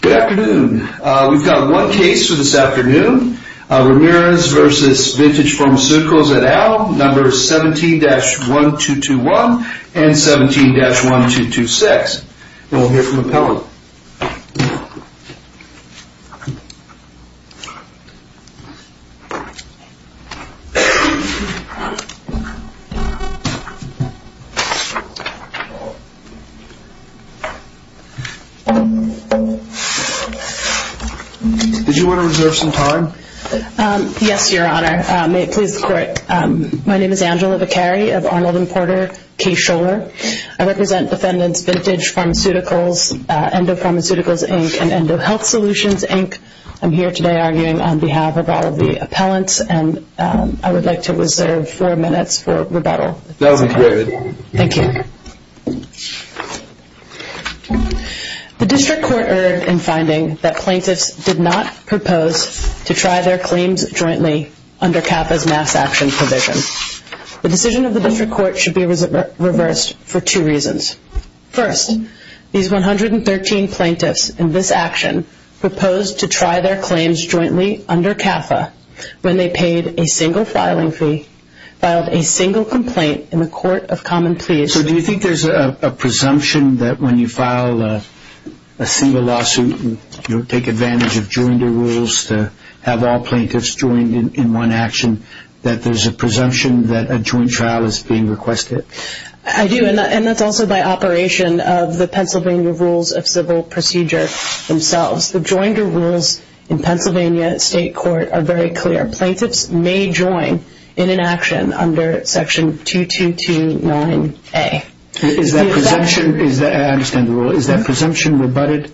Good afternoon. We've got one case for this afternoon. Ramirez v. Vintage Pharmaceuticals et al., number 17-1221 and 17-1226. We'll hear from appellant. Did you want to reserve some time? Yes, your honor. May it please the court. My name is Angela Vicari of Arnold and Porter K. Scholar. I represent defendants Vintage Pharmaceuticals, Endo Pharmaceuticals, Inc. and Endo Health Solutions, Inc. I'm here today arguing on behalf of all of the appellants and I would like to reserve four minutes for rebuttal. That would be great. Thank you. The district court erred in finding that plaintiffs did not propose to try their claims jointly under CAFA's mass action provision. The decision of the district court should be reversed for two reasons. First, these 113 plaintiffs in this action proposed to try their claims jointly under CAFA when they paid a single filing fee, filed a single complaint in the court of common pleas. So do you think there's a presumption that when you file a single lawsuit you take advantage of joinder rules to have all plaintiffs joined in one action, that there's a presumption that a joint trial is being requested? I do, and that's also by operation of the Pennsylvania Rules of Civil Procedure themselves. The joinder rules in Pennsylvania State Court are very clear. Plaintiffs may join in an action under section 2229A. I understand the rule. Is that presumption rebutted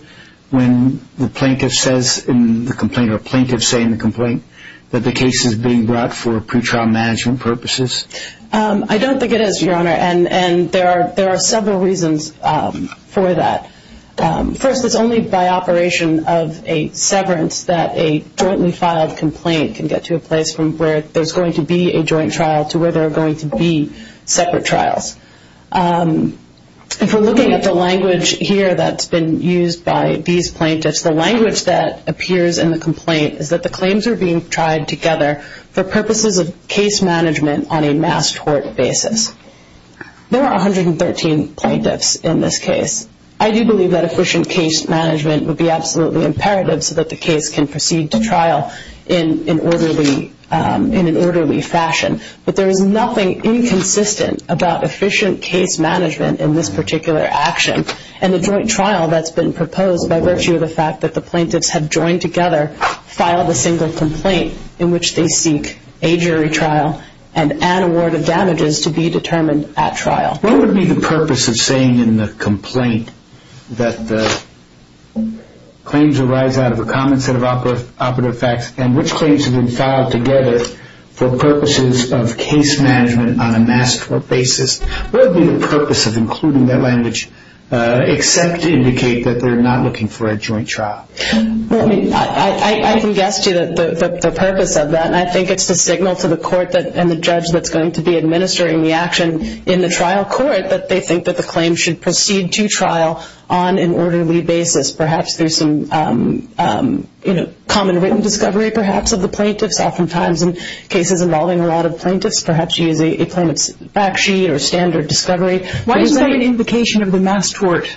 when the plaintiff says in the complaint that the case is being brought for pretrial management purposes? I don't think it is, Your Honor, and there are several reasons for that. First, it's only by operation of a severance that a jointly filed complaint can get to a place from where there's going to be a joint trial to where there are going to be separate trials. If we're looking at the language here that's been used by these plaintiffs, the language that appears in the complaint is that the claims are being tried together for purposes of case management on a mass tort basis. There are 113 plaintiffs in this case. I do believe that efficient case management would be absolutely imperative so that the case can proceed to trial in an orderly fashion. But there is nothing inconsistent about efficient case management in this particular action, and the joint trial that's been proposed by virtue of the fact that the plaintiffs have joined together, filed a single complaint in which they seek a jury trial and an award of damages to be determined at trial. What would be the purpose of saying in the complaint that the claims arise out of a common set of operative facts and which claims have been filed together for purposes of case management on a mass tort basis? What would be the purpose of including that language except to indicate that they're not looking for a joint trial? I can guess to you the purpose of that, and I think it's the signal to the court and the judge that's going to be administering the action in the trial court that they think that the claims should proceed to trial on an orderly basis, perhaps through some common written discovery perhaps of the plaintiffs. Oftentimes in cases involving a lot of plaintiffs, perhaps you use a plaintiff's fact sheet or standard discovery. Why is that an invocation of the mass tort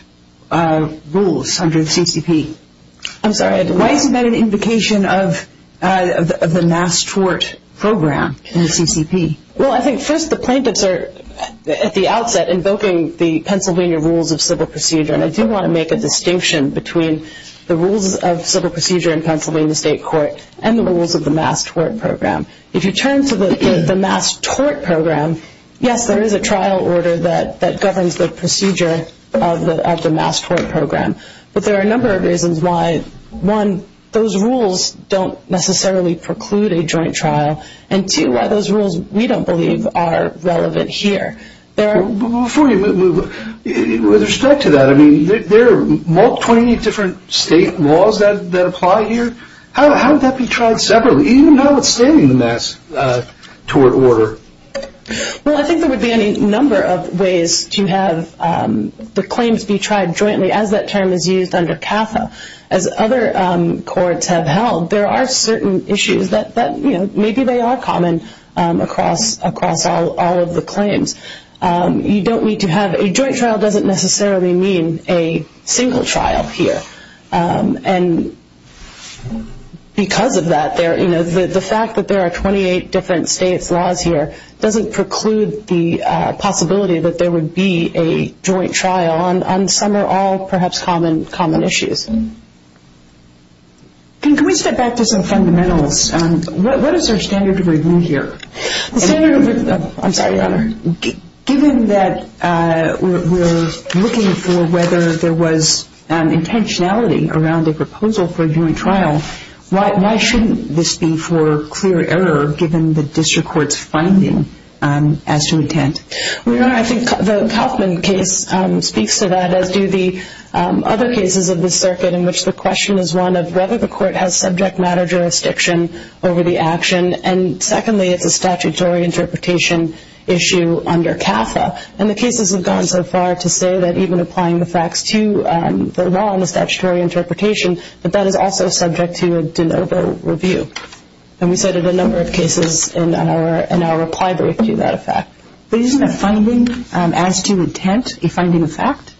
rules under the CCP? I'm sorry? Why is that an invocation of the mass tort program in the CCP? Well, I think first the plaintiffs are at the outset invoking the Pennsylvania rules of civil procedure, and I do want to make a distinction between the rules of civil procedure in Pennsylvania State Court and the rules of the mass tort program. If you turn to the mass tort program, yes, there is a trial order that governs the procedure of the mass tort program, but there are a number of reasons why, one, those rules don't necessarily preclude a joint trial, and two, why those rules, we don't believe, are relevant here. Before you move, with respect to that, I mean, there are more than 20 different state laws that apply here. How would that be tried separately, even notwithstanding the mass tort order? Well, I think there would be any number of ways to have the claims be tried jointly as that term is used under CAFA. As other courts have held, there are certain issues that maybe they are common across all of the claims. A joint trial doesn't necessarily mean a single trial here, and because of that, the fact that there are 28 different state laws here doesn't preclude the possibility that there would be a joint trial on some or all perhaps common issues. Can we step back to some fundamentals? What is our standard of review here? I'm sorry, Your Honor. Given that we're looking for whether there was intentionality around a proposal for a joint trial, why shouldn't this be for clear error, given the district court's finding as to intent? Your Honor, I think the Kauffman case speaks to that, as do the other cases of the circuit in which the question is one of whether the court has subject matter jurisdiction over the action, and secondly, it's a statutory interpretation issue under CAFA. And the cases have gone so far to say that even applying the facts to the law and the statutory interpretation, that that is also subject to a de novo review. And we cited a number of cases in our reply brief to that effect. But isn't a finding as to intent a finding of fact?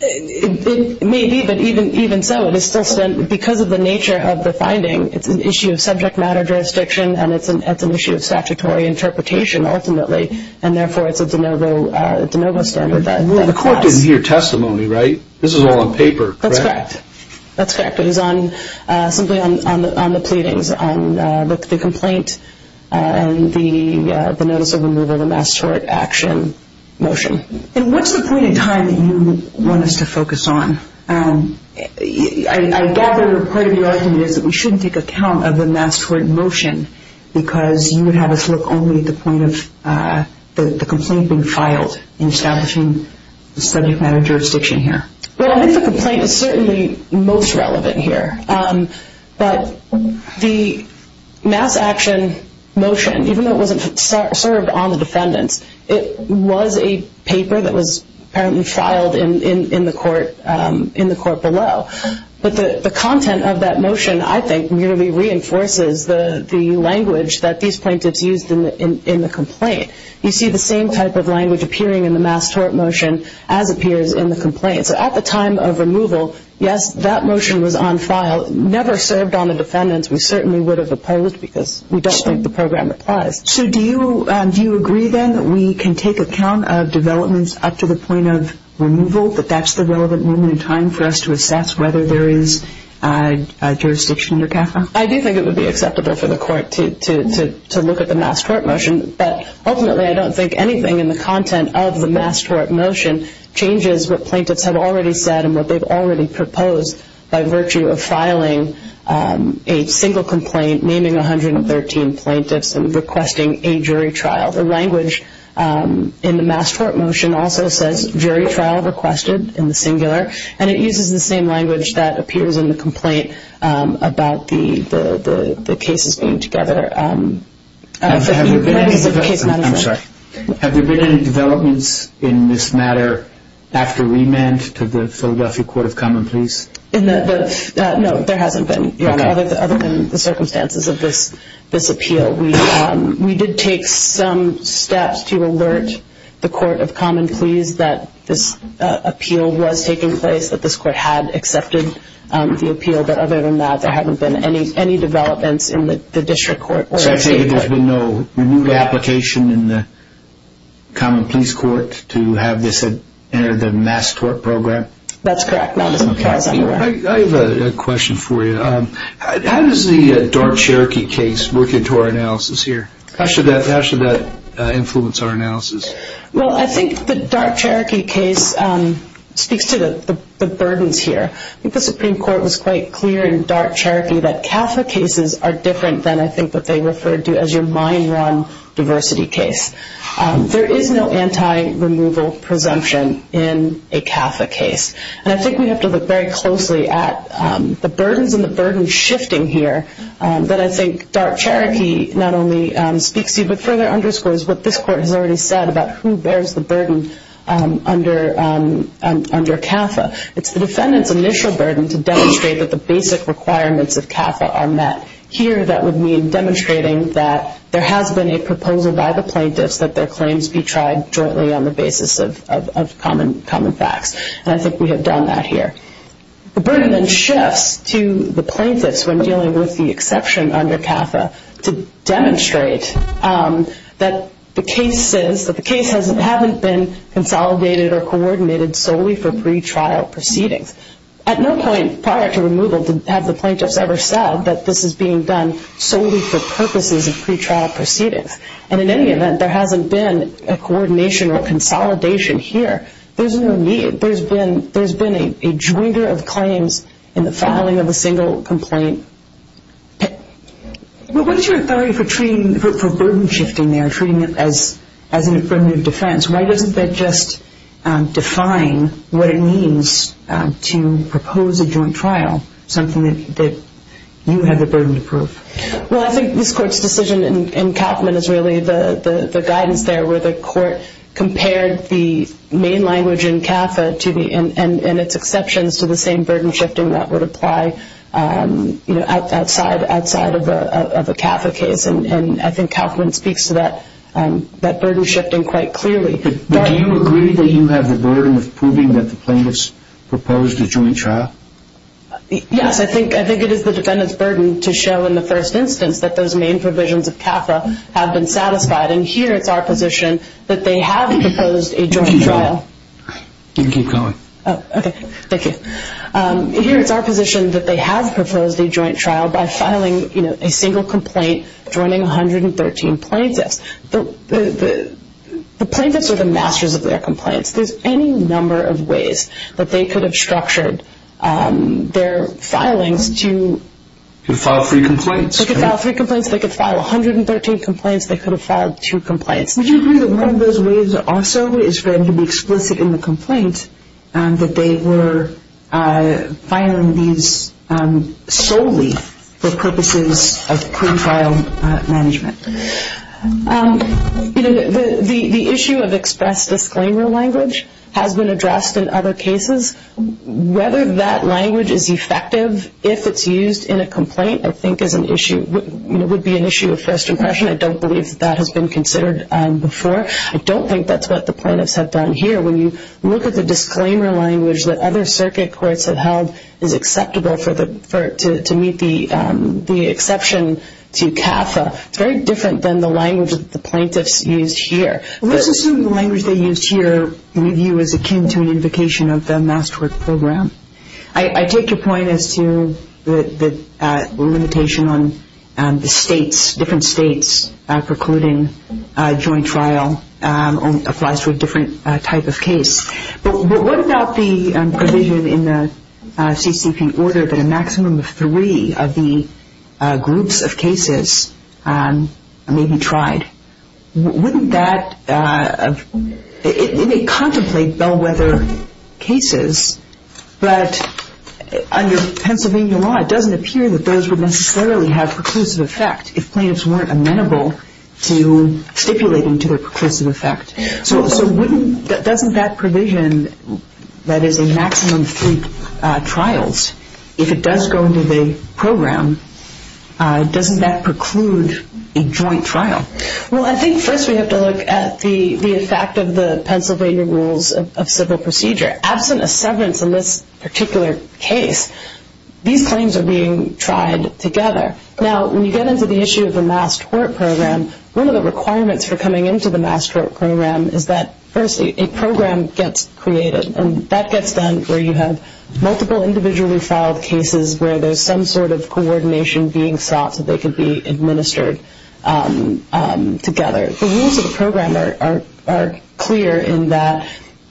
It may be, but even so, because of the nature of the finding, it's an issue of subject matter jurisdiction, and it's an issue of statutory interpretation ultimately, and therefore it's a de novo standard that applies. The court didn't hear testimony, right? This is all on paper, correct? That's correct. That's correct. So it is simply on the pleadings, on the complaint, and the notice of removal, the mass tort action motion. And what's the point in time that you want us to focus on? I gather part of your argument is that we shouldn't take account of the mass tort motion because you would have us look only at the point of the complaint being filed in establishing the subject matter jurisdiction here. Well, I think the complaint is certainly most relevant here. But the mass action motion, even though it wasn't served on the defendants, it was a paper that was apparently filed in the court below. But the content of that motion, I think, really reinforces the language that these plaintiffs used in the complaint. You see the same type of language appearing in the mass tort motion as appears in the complaint. So at the time of removal, yes, that motion was on file. It never served on the defendants. We certainly would have opposed because we don't think the program applies. So do you agree then that we can take account of developments up to the point of removal, that that's the relevant moment in time for us to assess whether there is jurisdiction under CAFA? I do think it would be acceptable for the court to look at the mass tort motion. But ultimately, I don't think anything in the content of the mass tort motion changes what plaintiffs have already said and what they've already proposed by virtue of filing a single complaint naming 113 plaintiffs and requesting a jury trial. The language in the mass tort motion also says jury trial requested in the singular, and it uses the same language that appears in the complaint about the cases being together. Have there been any developments in this matter after remand to the Philadelphia Court of Common Pleas? No, there hasn't been, Your Honor, other than the circumstances of this appeal. We did take some steps to alert the Court of Common Pleas that this appeal was taking place, but other than that, there haven't been any developments in the district court. So I take it there's been no renewed application in the Common Pleas Court to have this enter the mass tort program? That's correct. I have a question for you. How does the Dark Cherokee case work into our analysis here? How should that influence our analysis? Well, I think the Dark Cherokee case speaks to the burdens here. I think the Supreme Court was quite clear in Dark Cherokee that CAFA cases are different than I think what they referred to as your mine run diversity case. There is no anti-removal presumption in a CAFA case, and I think we have to look very closely at the burdens and the burden shifting here that I think Dark Cherokee not only speaks to but further underscores what this court has already said about who bears the burden under CAFA. It's the defendant's initial burden to demonstrate that the basic requirements of CAFA are met. Here that would mean demonstrating that there has been a proposal by the plaintiffs that their claims be tried jointly on the basis of common facts, and I think we have done that here. The burden then shifts to the plaintiffs when dealing with the exception under CAFA to demonstrate that the case says that the case hasn't been consolidated or coordinated solely for pretrial proceedings. At no point prior to removal have the plaintiffs ever said that this is being done solely for purposes of pretrial proceedings, and in any event, there hasn't been a coordination or consolidation here. There's no need. There's been a joinder of claims in the filing of a single complaint. What is your authority for burden shifting there, treating it as an affirmative defense? Why doesn't that just define what it means to propose a joint trial, something that you have the burden to prove? Well, I think this court's decision in Kauffman is really the guidance there where the court compared the main language in CAFA and its exceptions to the same burden shifting that would apply outside of a CAFA case, and I think Kauffman speaks to that burden shifting quite clearly. Do you agree that you have the burden of proving that the plaintiffs proposed a joint trial? Yes, I think it is the defendant's burden to show in the first instance that those main provisions of CAFA have been satisfied, and here it's our position that they have proposed a joint trial. Here it's our position that they have proposed a joint trial by filing a single complaint, joining 113 plaintiffs. The plaintiffs are the masters of their complaints. There's any number of ways that they could have structured their filings to file three complaints. They could file three complaints, they could file 113 complaints, they could have filed two complaints. Would you agree that one of those ways also is going to be explicit in the complaint that they were filing these solely for purposes of pre-trial management? The issue of express disclaimer language has been addressed in other cases. Whether that language is effective, if it's used in a complaint, I think would be an issue of first impression. I don't believe that that has been considered before. I don't think that's what the plaintiffs have done here. When you look at the disclaimer language that other circuit courts have held is acceptable to meet the exception to CAFA, it's very different than the language that the plaintiffs used here. Let's assume the language they used here with you is akin to an invocation of the Masterwork Program. I take your point as to the limitation on the states, different states, precluding joint trial applies to a different type of case. But what about the provision in the CCP order that a maximum of three of the groups of cases may be tried? Wouldn't that, it may contemplate bellwether cases, but under Pennsylvania law it doesn't appear that those would necessarily have preclusive effect. If plaintiffs weren't amenable to stipulating to their preclusive effect. So wouldn't, doesn't that provision that is a maximum of three trials, if it does go into the program, doesn't that preclude a joint trial? Well, I think first we have to look at the effect of the Pennsylvania rules of civil procedure. Absent a severance in this particular case, these claims are being tried together. Now, when you get into the issue of the Masterwork Program, one of the requirements for coming into the Masterwork Program is that first a program gets created. And that gets done where you have multiple individually filed cases where there's some sort of coordination being sought so they can be administered together. The rules of the program are clear in that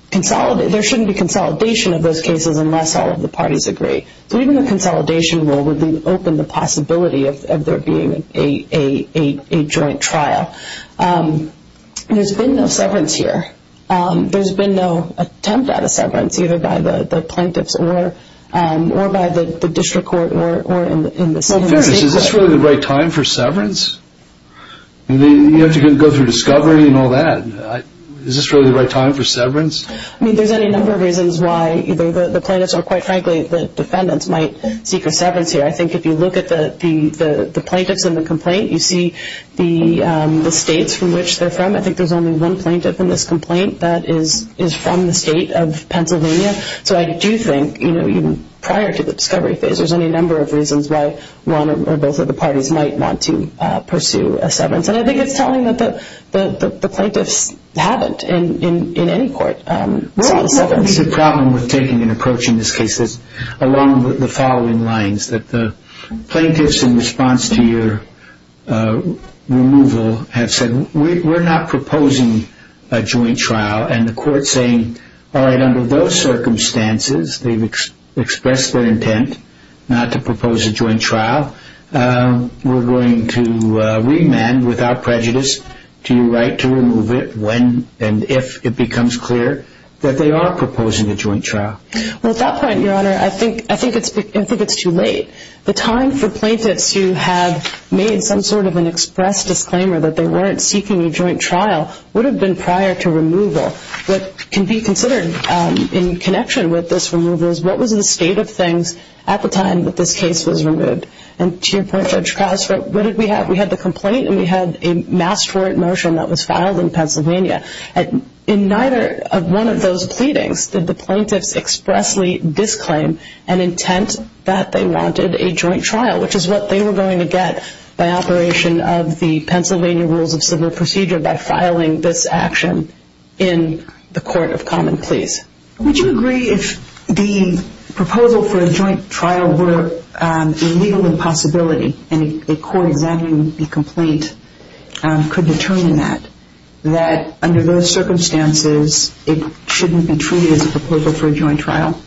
there shouldn't be consolidation of those cases unless all of the parties agree. So even the consolidation rule would open the possibility of there being a joint trial. There's been no severance here. There's been no attempt at a severance either by the plaintiffs or by the district court or in the state court. Well, Ferris, is this really the right time for severance? You have to go through discovery and all that. Is this really the right time for severance? I mean, there's any number of reasons why either the plaintiffs or, quite frankly, the defendants might seek a severance here. I think if you look at the plaintiffs in the complaint, you see the states from which they're from. I think there's only one plaintiff in this complaint that is from the state of Pennsylvania. So I do think, you know, even prior to the discovery phase, there's any number of reasons why one or both of the parties might want to pursue a severance. And I think it's telling that the plaintiffs haven't in any court sought a severance. Well, I think the problem with taking an approach in this case is along the following lines, that the plaintiffs in response to your removal have said, we're not proposing a joint trial, and the court's saying, all right, under those circumstances, they've expressed their intent not to propose a joint trial. We're going to remand without prejudice to your right to remove it when and if it becomes clear that they are proposing a joint trial. Well, at that point, Your Honor, I think it's too late. The time for plaintiffs to have made some sort of an express disclaimer that they weren't seeking a joint trial would have been prior to removal. What can be considered in connection with this removal is, what was the state of things at the time that this case was removed? And to your point, Judge Krause, what did we have? We had the complaint and we had a mass tort motion that was filed in Pennsylvania. In neither of one of those pleadings did the plaintiffs expressly disclaim an intent that they wanted a joint trial, which is what they were going to get by operation of the Pennsylvania Rules of Civil Procedure by filing this action in the Court of Common Pleas. Would you agree if the proposal for a joint trial were a legal impossibility and a court examining the complaint could determine that, that under those circumstances it shouldn't be treated as a proposal for a joint trial?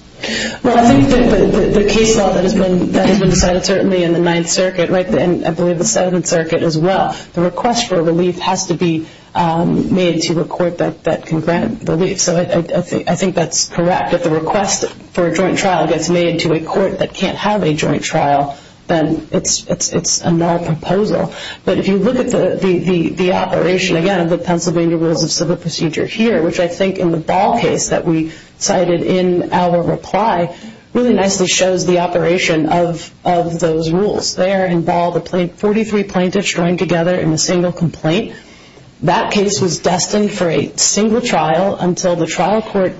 Well, I think the case law that has been decided certainly in the Ninth Circuit and I believe the Seventh Circuit as well, the request for relief has to be made to a court that can grant relief. So I think that's correct. If the request for a joint trial gets made to a court that can't have a joint trial, then it's a null proposal. But if you look at the operation, again, of the Pennsylvania Rules of Civil Procedure here, which I think in the Ball case that we cited in our reply, really nicely shows the operation of those rules. There in Ball, the 43 plaintiffs joined together in a single complaint. That case was destined for a single trial until the trial court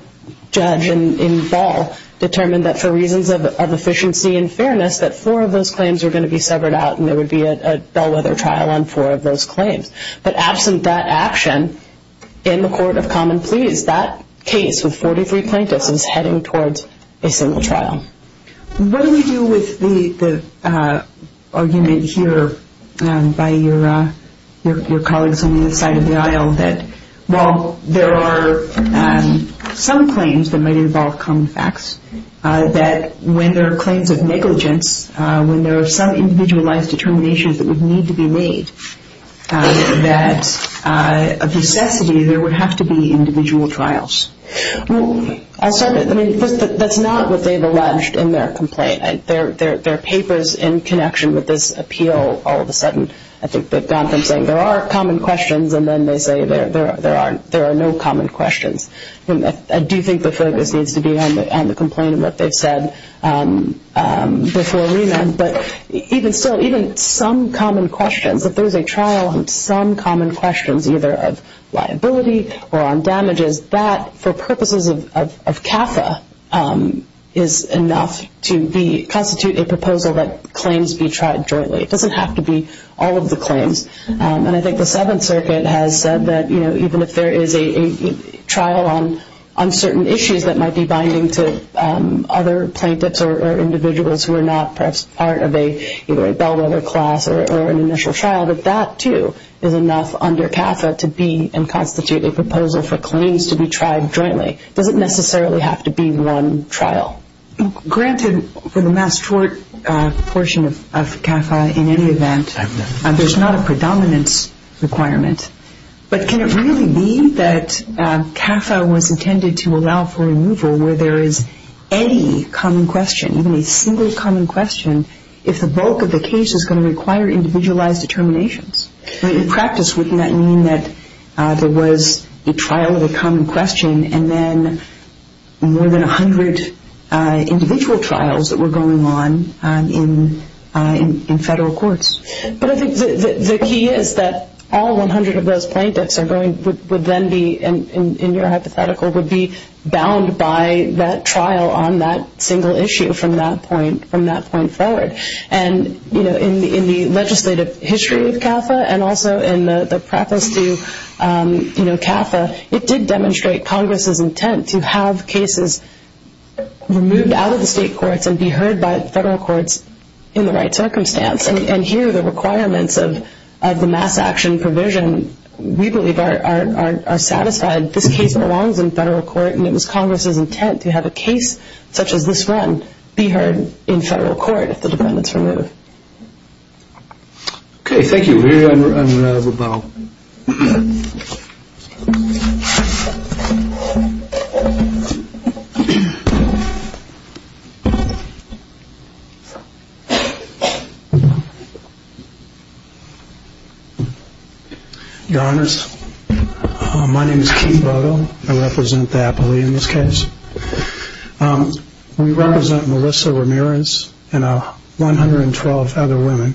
judge in Ball determined that for reasons of efficiency and fairness that four of those claims were going to be severed out and there would be a bellwether trial on four of those claims. But absent that action, in the court of common pleas, that case with 43 plaintiffs is heading towards a single trial. What do we do with the argument here by your colleagues on the other side of the aisle that while there are some claims that might involve common facts, that when there are claims of negligence, when there are some individualized determinations that would need to be made, that of necessity there would have to be individual trials? That's not what they've alleged in their complaint. Their paper's in connection with this appeal all of a sudden. I think they've gone from saying there are common questions and then they say there are no common questions. I do think the focus needs to be on the complaint and what they've said before remand. But even some common questions, if there's a trial on some common questions, either of liability or on damages, that for purposes of CAFA is enough to constitute a proposal that claims be tried jointly. It doesn't have to be all of the claims. I think the Seventh Circuit has said that even if there is a trial on certain issues that might be binding to other plaintiffs or individuals who are not perhaps part of a bellwether class or an initial trial, that that too is enough under CAFA to be enough to constitute a proposal for claims to be tried jointly. It doesn't necessarily have to be one trial. Granted, for the mass court portion of CAFA, in any event, there's not a predominance requirement. But can it really be that CAFA was intended to allow for removal where there is any common question, even a single common question, if the bulk of the case is going to require individualized determinations? In practice, wouldn't that mean that there was a trial of a common question and then more than 100 individual trials that were going on in federal courts? But I think the key is that all 100 of those plaintiffs would then be, in your hypothetical, would be bound by that trial on that single issue from that point forward. And in the legislative history of CAFA and also in the preface to CAFA, it did demonstrate Congress's intent to have cases removed out of the state courts and be heard by federal courts in the right circumstance. And here the requirements of the mass action provision, we believe, are satisfied. This case belongs in federal court, and it was Congress's intent to have a case such as this one be heard in federal court if the defendant's removed. Okay, thank you. We're here on rebel. Your Honors, my name is Keith Bogle. I represent the appellee in this case. We represent Melissa Ramirez and 112 other women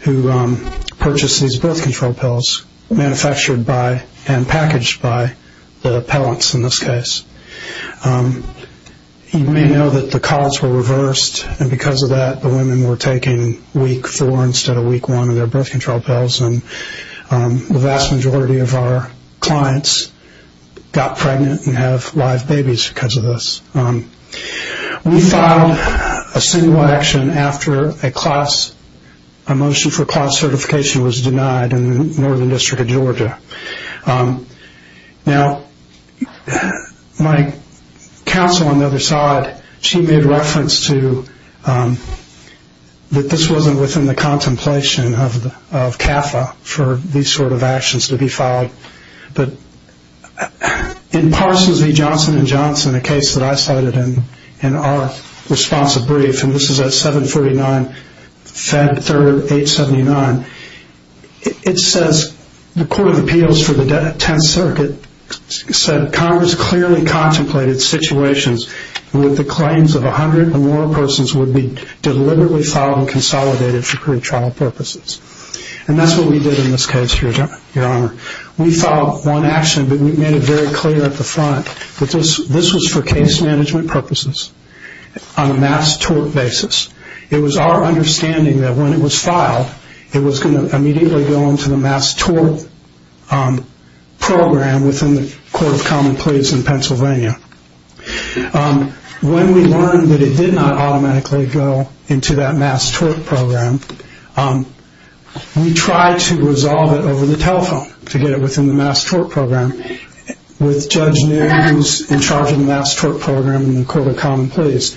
who purchased these birth control pills manufactured by and packaged by the appellants in this case. You may know that the costs were reversed, and because of that, the women were taking week four instead of week one of their birth control pills. And the vast majority of our clients got pregnant and have live babies because of this. We filed a single action after a motion for class certification was denied in the Northern District of Georgia. Now, my counsel on the other side, she made reference to that this wasn't within the contemplation of CAFA for these sort of actions to be filed. In Parsons v. Johnson & Johnson, a case that I cited in our responsive brief, and this is at 749 Fed Third 879, it says the Court of Appeals for the Tenth Circuit said that Congress clearly contemplated situations where the claims of 100 or more persons would be deliberately filed and consolidated for pretrial purposes. And that's what we did in this case, Your Honor. We filed one action, but we made it very clear at the front that this was for case management purposes on a mass tort basis. It was our understanding that when it was filed, it was going to immediately go into the mass tort program within the Court of Common Pleas in Pennsylvania. When we learned that it did not automatically go into that mass tort program, we tried to resolve it over the telephone to get it within the mass tort program with Judge News in charge of the mass tort program in the Court of Common Pleas.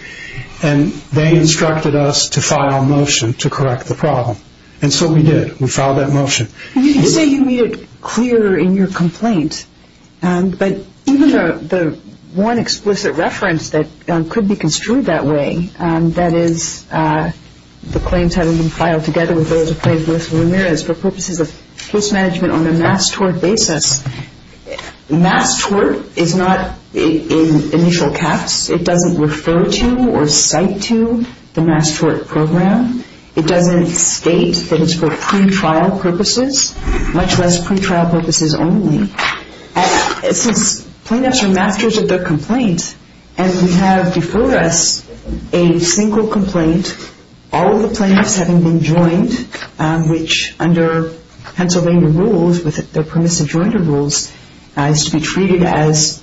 And they instructed us to file a motion to correct the problem. And so we did. We filed that motion. You say you made it clear in your complaint, but even the one explicit reference that could be construed that way, that is the claims had been filed together with those of Judge Melissa Ramirez for purposes of case management on a mass tort basis. Mass tort is not in initial caps. It doesn't refer to or cite to the mass tort program. It doesn't state that it's for pretrial purposes, much less pretrial purposes only. Since plaintiffs are masters of their complaint, and we have before us a single complaint, all of the plaintiffs having been joined, which under Pennsylvania rules, with their permissive jointed rules, is to be treated as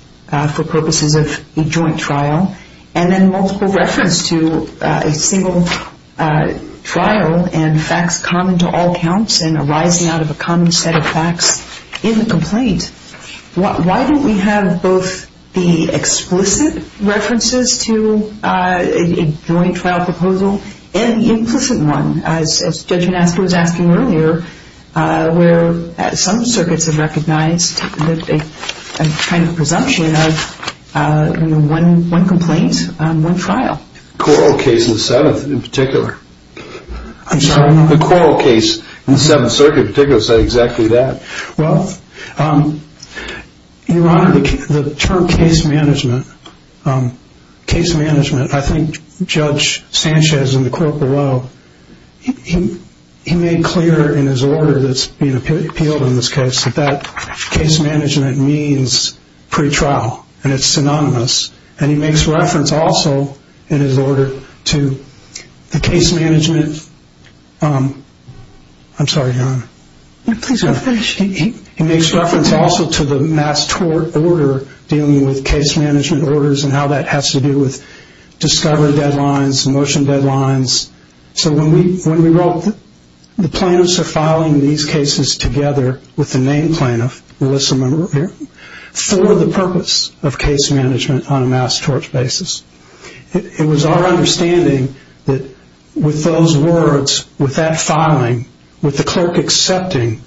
for purposes of a joint trial. And then multiple reference to a single trial and facts common to all counts and arising out of a common set of facts in the complaint. Why don't we have both the explicit references to a joint trial proposal and the implicit one, as Judge Anastasiou was asking earlier, where some circuits have recognized a kind of presumption of one complaint, one trial. Corral case in the 7th in particular. I'm sorry? The Corral case in the 7th Circuit in particular said exactly that. Well, Your Honor, the term case management, I think Judge Sanchez in the court below, he made clear in his order that's being appealed in this case that case management means pretrial, and it's synonymous. And he makes reference also in his order to the case management. I'm sorry, Your Honor. Please go finish. He makes reference also to the mass tort order dealing with case management orders and how that has to do with discovery deadlines, motion deadlines. So when we wrote the plaintiffs are filing these cases together with the name plaintiff, Melissa Monroe, for the purpose of case management on a mass tort basis, it was our understanding that with those words, with that filing, with the clerk accepting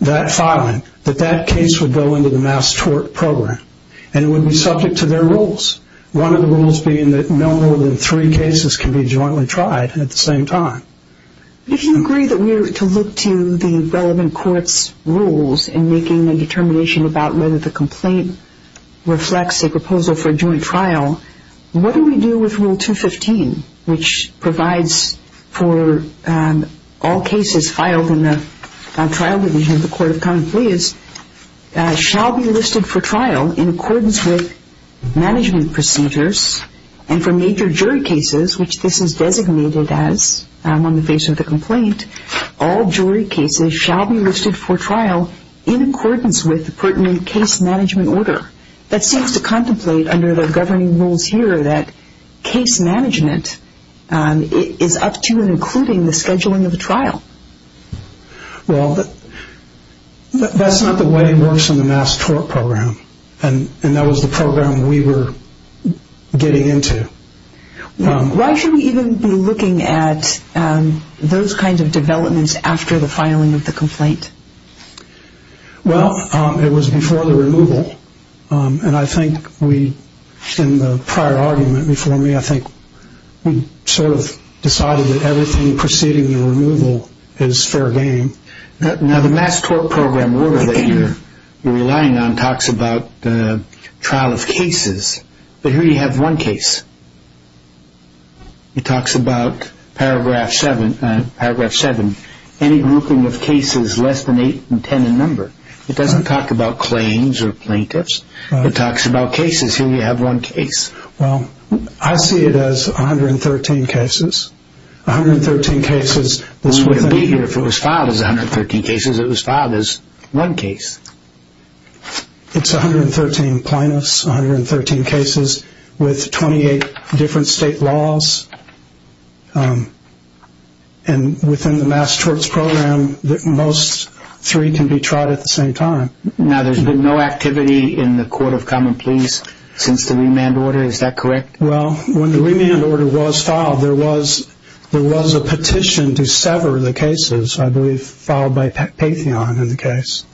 that filing, that that case would go into the mass tort program and would be subject to their rules, one of the rules being that no more than three cases can be jointly tried at the same time. If you agree that we're to look to the relevant court's rules in making a determination about whether the complaint reflects a proposal for a joint trial, what do we do with Rule 215, which provides for all cases filed in the trial division of the Court of Common Pleas shall be listed for trial in accordance with management procedures and for major jury cases, which this is designated as on the face of the complaint, all jury cases shall be listed for trial in accordance with the pertinent case management order. That seems to contemplate under the governing rules here that case management is up to and including the scheduling of a trial. Well, that's not the way it works in the mass tort program, and that was the program we were getting into. Why should we even be looking at those kinds of developments after the filing of the complaint? Well, it was before the removal, and I think we, in the prior argument before me, I think we sort of decided that everything preceding the removal is fair game. Now, the mass tort program order that you're relying on talks about the trial of cases, but here you have one case. It talks about Paragraph 7, any grouping of cases less than 8 and 10 in number. It doesn't talk about claims or plaintiffs. It talks about cases. Here you have one case. Well, I see it as 113 cases, 113 cases. It wouldn't be here if it was filed as 113 cases. It was filed as one case. It's 113 plaintiffs, 113 cases with 28 different state laws, and within the mass torts program, most three can be tried at the same time. Now, there's been no activity in the Court of Common Pleas since the remand order. Is that correct? Well, when the remand order was filed, there was a petition to sever the cases, I believe, filed by Patheon in the case,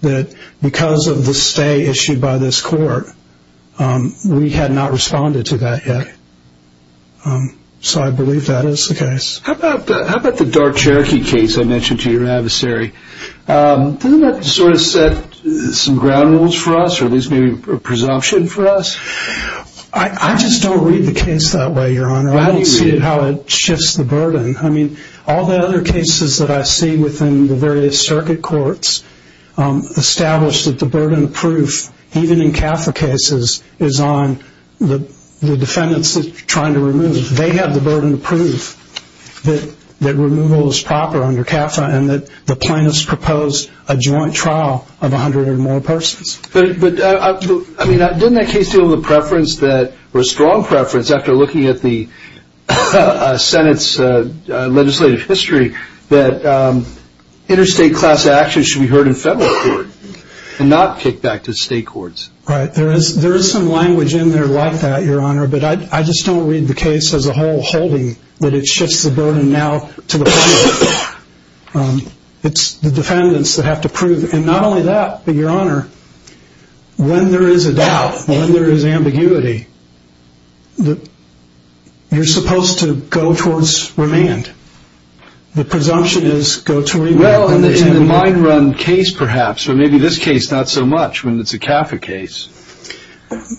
that because of the stay issued by this court, we had not responded to that yet. So I believe that is the case. How about the dark Cherokee case I mentioned to your adversary? Doesn't that sort of set some ground rules for us or at least maybe a presumption for us? I just don't read the case that way, Your Honor. I don't see it how it shifts the burden. I mean, all the other cases that I see within the various circuit courts establish that the burden of proof, even in CAFA cases, is on the defendants trying to remove. They have the burden of proof that removal is proper under CAFA and that the plaintiffs proposed a joint trial of 100 or more persons. But, I mean, didn't that case deal with a preference that, or a strong preference after looking at the Senate's legislative history, that interstate class actions should be heard in federal court and not kicked back to state courts? Right. There is some language in there like that, Your Honor. But I just don't read the case as a whole holding that it shifts the burden now to the plaintiffs. It's the defendants that have to prove. And not only that, but, Your Honor, when there is a doubt, when there is ambiguity, you're supposed to go towards remand. The presumption is go to remand. Well, in the mine run case, perhaps, or maybe this case not so much when it's a CAFA case.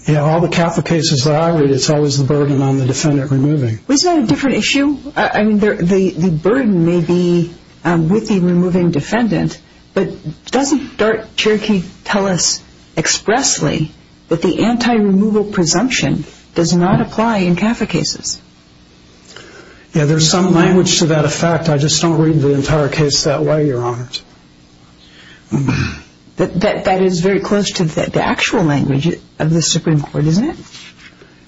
Yeah, all the CAFA cases that I read, it's always the burden on the defendant removing. Isn't that a different issue? I mean, the burden may be with the removing defendant, but doesn't Dart-Cherokee tell us expressly that the anti-removal presumption does not apply in CAFA cases? Yeah, there is some language to that effect. I just don't read the entire case that way, Your Honor. That is very close to the actual language of the Supreme Court, isn't it?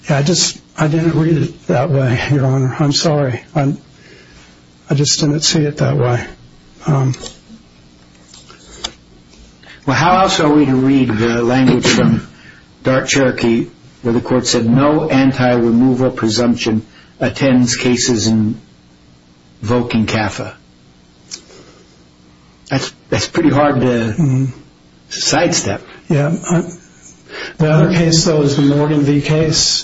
Yeah, I just didn't read it that way, Your Honor. I'm sorry. I just didn't see it that way. Well, how else are we to read the language from Dart-Cherokee where the court said no anti-removal presumption attends cases invoking CAFA? That's pretty hard to sidestep. Yeah. The other case, though, is the Morgan v. Gate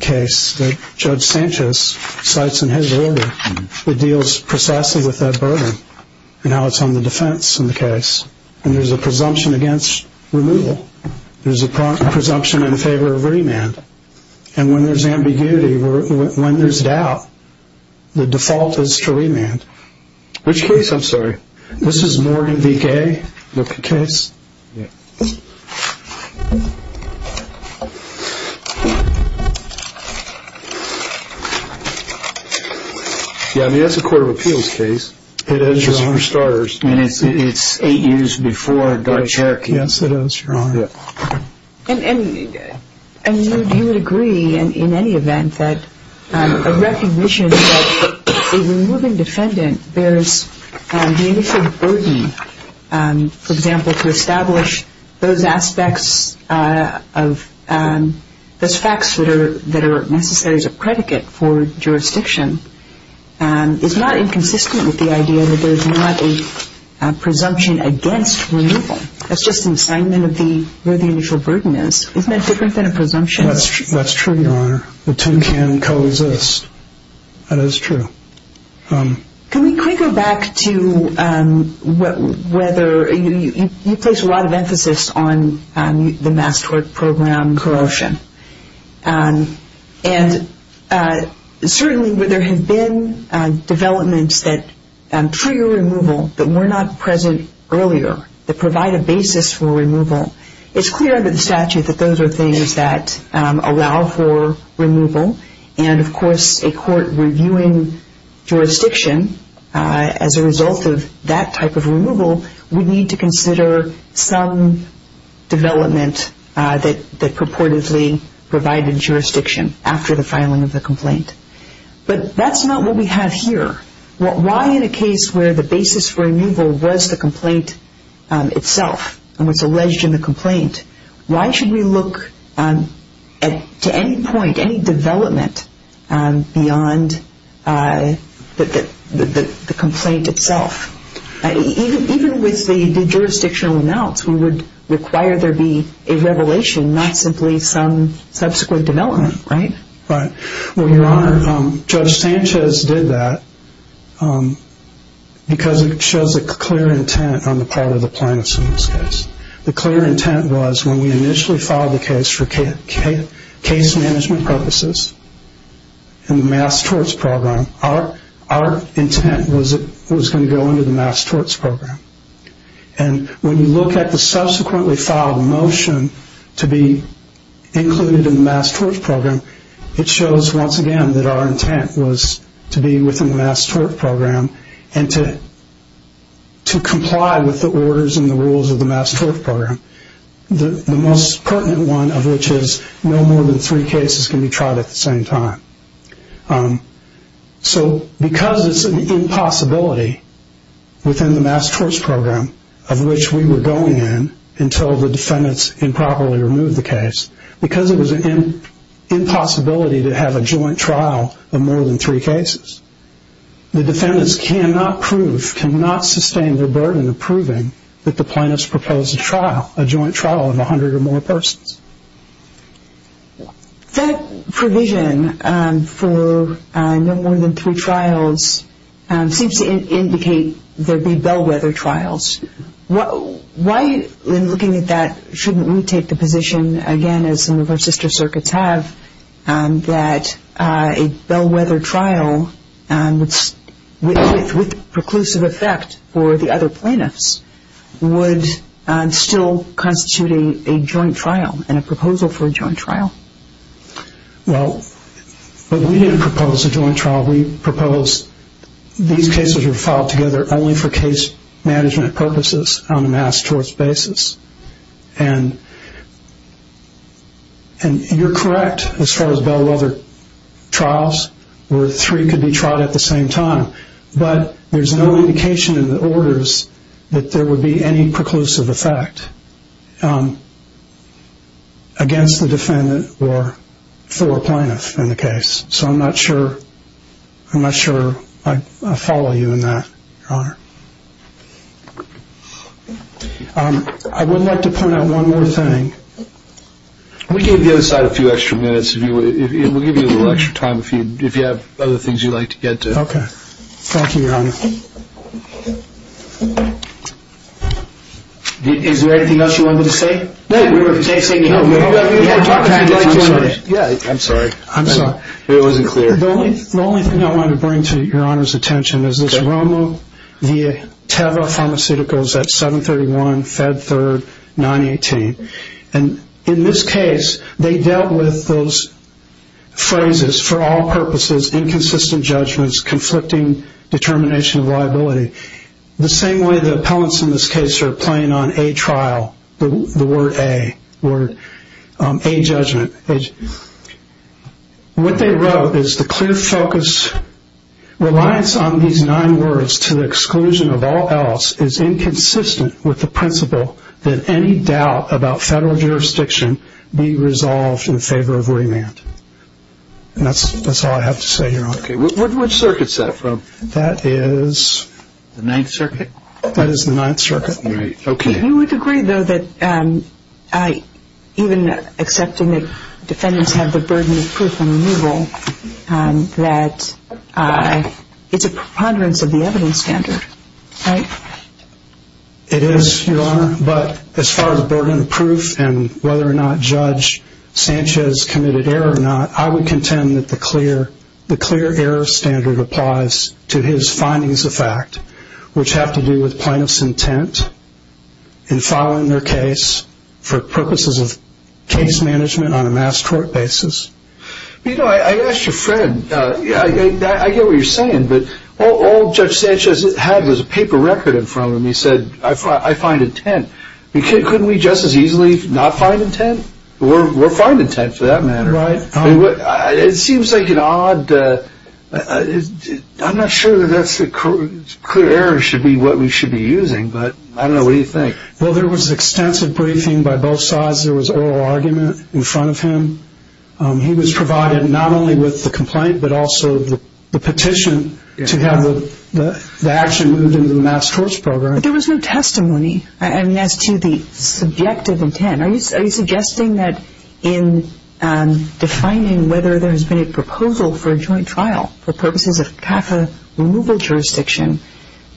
case that Judge Sanchez cites in his order. It deals precisely with that burden and how it's on the defense in the case. And there's a presumption against removal. There's a presumption in favor of remand. And when there's ambiguity, when there's doubt, the default is to remand. Which case? I'm sorry. This is Morgan v. Gate case. Yeah, I mean, that's a court of appeals case. It is, Your Honor. Just for starters. I mean, it's eight years before Dart-Cherokee. Yes, it is, Your Honor. And you would agree in any event that a recognition that a removing defendant bears the initial burden, for example, to establish those aspects of those facts that are necessary as a predicate for jurisdiction is not inconsistent with the idea that there's not a presumption against removal. That's just an assignment of where the initial burden is. Isn't that different than a presumption? That's true, Your Honor. The two can co-exist. That is true. Can we go back to whether – you place a lot of emphasis on the mass tort program, corrosion. And certainly there have been developments that trigger removal that were not present earlier that provide a basis for removal. It's clear under the statute that those are things that allow for removal. And, of course, a court reviewing jurisdiction as a result of that type of removal would need to consider some development that purportedly provided jurisdiction after the filing of the complaint. But that's not what we have here. Why in a case where the basis for removal was the complaint itself and was alleged in the complaint, why should we look to any point, any development beyond the complaint itself? Even with the jurisdictional announce, we would require there be a revelation, not simply some subsequent development, right? Right. Well, Your Honor, Judge Sanchez did that because it shows a clear intent on the part of the plaintiffs in this case. The clear intent was when we initially filed the case for case management purposes in the mass torts program, our intent was that it was going to go under the mass torts program. And when you look at the subsequently filed motion to be included in the mass torts program, it shows once again that our intent was to be within the mass torts program and to comply with the orders and the rules of the mass torts program. The most pertinent one of which is no more than three cases can be tried at the same time. So because it's an impossibility within the mass torts program of which we were going in until the defendants improperly removed the case, because it was an impossibility to have a joint trial of more than three cases, the defendants cannot prove, cannot sustain their burden of proving that the plaintiffs proposed a trial, a joint trial of 100 or more persons. That provision for no more than three trials seems to indicate there would be bellwether trials. Why, in looking at that, shouldn't we take the position, again, as some of our sister circuits have, that a bellwether trial with preclusive effect for the other plaintiffs would still constitute a joint trial and a proposal for a joint trial? Well, we didn't propose a joint trial. We proposed these cases were filed together only for case management purposes on a mass torts basis. And you're correct as far as bellwether trials where three could be tried at the same time, but there's no indication in the orders that there would be any preclusive effect against the defendant or for a plaintiff in the case. So I'm not sure I follow you in that, Your Honor. I would like to point out one more thing. We gave the other side a few extra minutes. We'll give you a little extra time if you have other things you'd like to get to. Okay. Thank you, Your Honor. Is there anything else you wanted to say? No, we were just saying we had time to talk. I'm sorry. I'm sorry. It wasn't clear. The only thing I wanted to bring to Your Honor's attention is this wrong move via Teva Pharmaceuticals at 731-Fed3-918. And in this case, they dealt with those phrases, for all purposes, inconsistent judgments, conflicting determination of liability, the same way the appellants in this case are playing on a trial, the word A, A judgment. What they wrote is the clear focus, reliance on these nine words to the exclusion of all else is inconsistent with the principle that any doubt about federal jurisdiction be resolved in favor of remand. And that's all I have to say, Your Honor. Okay. Which circuit is that from? That is... The Ninth Circuit? That is the Ninth Circuit. Okay. You would agree, though, that even accepting that defendants have the burden of proof on removal, that it's a preponderance of the evidence standard, right? It is, Your Honor. But as far as the burden of proof and whether or not Judge Sanchez committed error or not, I would contend that the clear error standard applies to his findings of fact, which have to do with plaintiff's intent in filing their case for purposes of case management on a mass court basis. You know, I asked your friend, I get what you're saying, but all Judge Sanchez had was a paper record in front of him. He said, I find intent. Couldn't we just as easily not find intent? We'll find intent for that matter. Right. It seems like an odd... I'm not sure that clear error should be what we should be using, but I don't know. What do you think? Well, there was extensive briefing by both sides. There was oral argument in front of him. He was provided not only with the complaint, but also the petition to have the action moved into the mass courts program. But there was no testimony as to the subjective intent. Are you suggesting that in defining whether there has been a proposal for a joint trial for purposes of CAFA removal jurisdiction,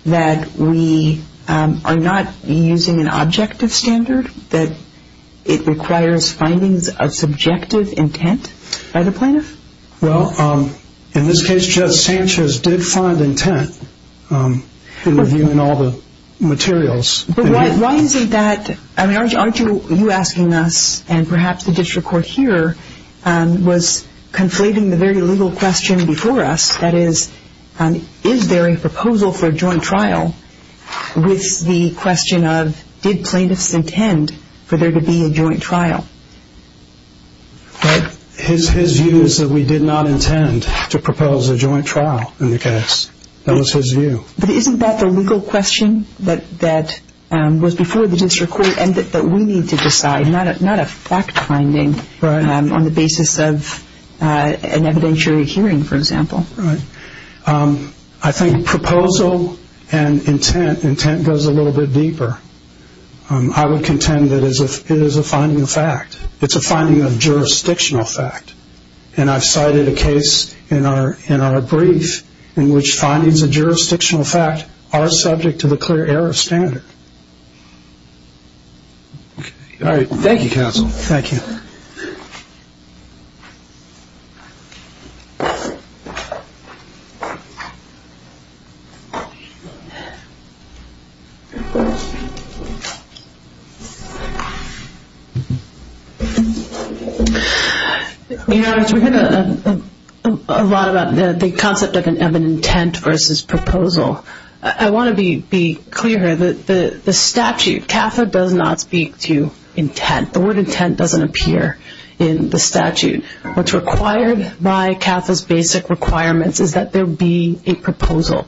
that we are not using an objective standard, that it requires findings of subjective intent by the plaintiff? Well, in this case, Judge Sanchez did find intent in reviewing all the materials. But why isn't that... Aren't you asking us, and perhaps the district court here, was conflating the very legal question before us, that is, is there a proposal for a joint trial with the question of, did plaintiffs intend for there to be a joint trial? His view is that we did not intend to propose a joint trial in the case. That was his view. But isn't that the legal question that was before the district court and that we need to decide, not a fact finding on the basis of an evidentiary hearing, for example? Right. I think proposal and intent goes a little bit deeper. I would contend that it is a finding of fact. It's a finding of jurisdictional fact. And I've cited a case in our brief in which findings of jurisdictional fact are subject to the clear error of standard. All right. Thank you, counsel. Thank you. We heard a lot about the concept of an intent versus proposal. I want to be clear here. The statute, CAFA does not speak to intent. The word intent doesn't appear in the statute. What's required by CAFA's basic requirements is that there be a proposal.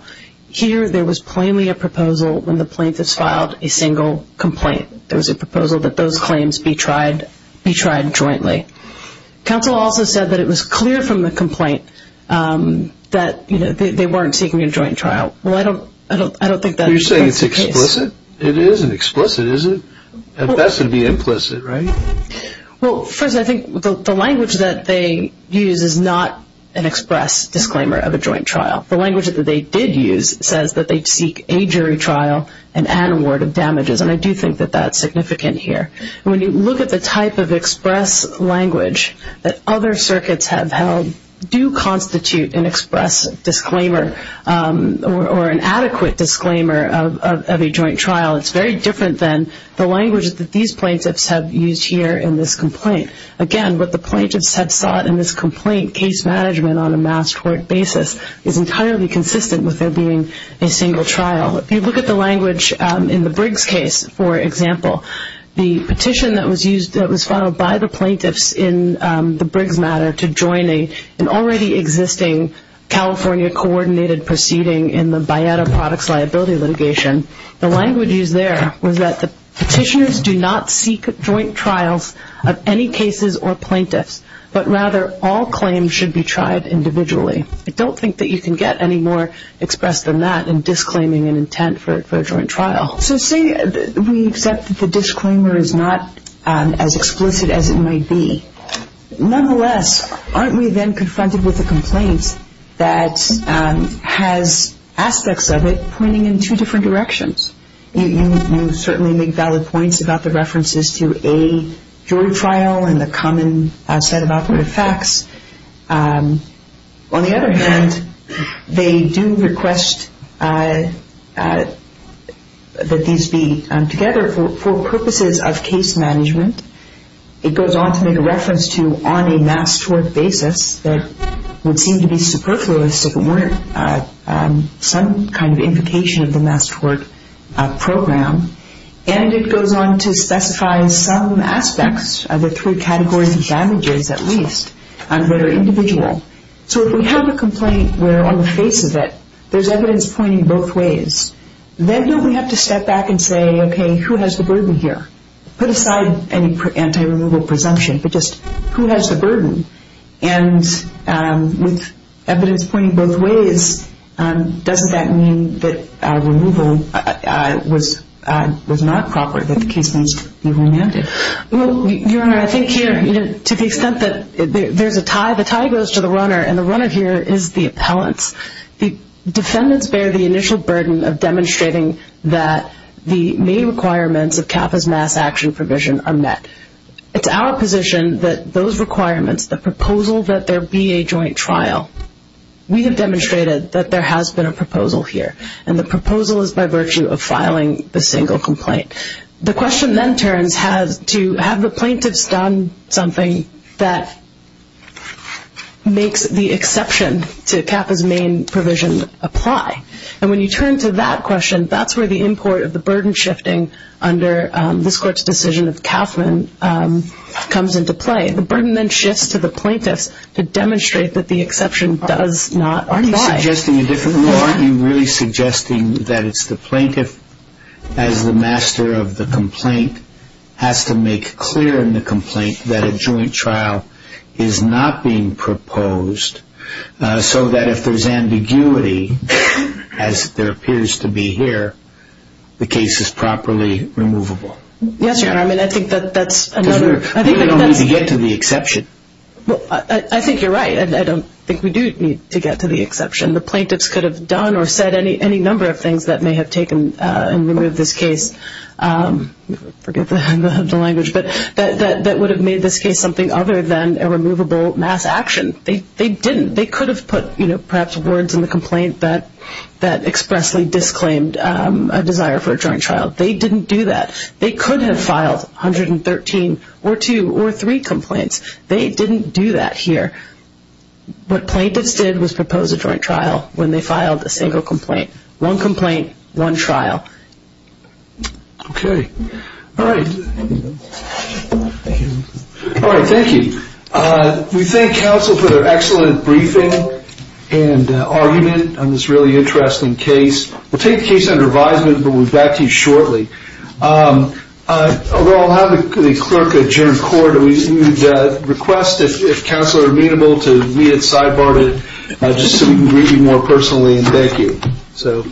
Here there was plainly a proposal when the plaintiffs filed a single complaint. There was a proposal that those claims be tried jointly. Counsel also said that it was clear from the complaint that they weren't seeking a joint trial. Well, I don't think that's the case. You're saying it's explicit? It isn't explicit, is it? At best it would be implicit, right? Well, first, I think the language that they use is not an express disclaimer of a joint trial. The language that they did use says that they seek a jury trial and an award of damages, and I do think that that's significant here. When you look at the type of express language that other circuits have held, do constitute an express disclaimer or an adequate disclaimer of a joint trial. It's very different than the language that these plaintiffs have used here in this complaint. Again, what the plaintiffs have sought in this complaint, case management on a mass court basis, is entirely consistent with there being a single trial. If you look at the language in the Briggs case, for example, the petition that was followed by the plaintiffs in the Briggs matter to join an already existing California-coordinated proceeding in the Bayetta Products Liability litigation, the language used there was that the petitioners do not seek joint trials of any cases or plaintiffs, but rather all claims should be tried individually. I don't think that you can get any more expressed than that in disclaiming an intent for a joint trial. So say we accept that the disclaimer is not as explicit as it might be. Nonetheless, aren't we then confronted with a complaint that has aspects of it pointing in two different directions? You certainly make valid points about the references to a jury trial and the common set of operative facts. On the other hand, they do request that these be together for purposes of case management. It goes on to make a reference to on a mass court basis that would seem to be superfluous if it weren't some kind of implication of the mass court program. And it goes on to specify some aspects of the three categories of damages at least that are individual. So if we have a complaint where on the face of it there's evidence pointing both ways, then don't we have to step back and say, okay, who has the burden here? Put aside any anti-removal presumption, but just who has the burden? And with evidence pointing both ways, doesn't that mean that removal was not proper, that the case needs to be remanded? Your Honor, I think here to the extent that there's a tie, the tie goes to the runner, and the runner here is the appellants. The defendants bear the initial burden of demonstrating that the main requirements of CAFA's mass action provision are met. It's our position that those requirements, the proposal that there be a joint trial, we have demonstrated that there has been a proposal here, and the proposal is by virtue of filing the single complaint. The question then turns to have the plaintiffs done something that makes the exception to CAFA's main provision apply. And when you turn to that question, that's where the import of the burden shifting under this court's decision of Kauffman comes into play. The burden then shifts to the plaintiffs to demonstrate that the exception does not apply. Aren't you suggesting a different rule? Aren't you really suggesting that it's the plaintiff as the master of the complaint has to make clear in the complaint that a joint trial is not being proposed, so that if there's ambiguity, as there appears to be here, the case is properly removable? Yes, Your Honor. I mean, I think that that's another. Because we don't need to get to the exception. Well, I think you're right. I don't think we do need to get to the exception. The plaintiffs could have done or said any number of things that may have taken and removed this case, forget the language, but that would have made this case something other than a removable mass action. They didn't. They could have put perhaps words in the complaint that expressly disclaimed a desire for a joint trial. They didn't do that. They could have filed 113 or two or three complaints. They didn't do that here. What plaintiffs did was propose a joint trial when they filed a single complaint. One complaint, one trial. Okay. All right. All right, thank you. We thank counsel for their excellent briefing and argument on this really interesting case. We'll take the case under advisement, but we'll be back to you shortly. We'll have the clerk adjourn court. We would request, if counsel are amenable, to leave it sidebarred, just so we can greet you more personally, and thank you.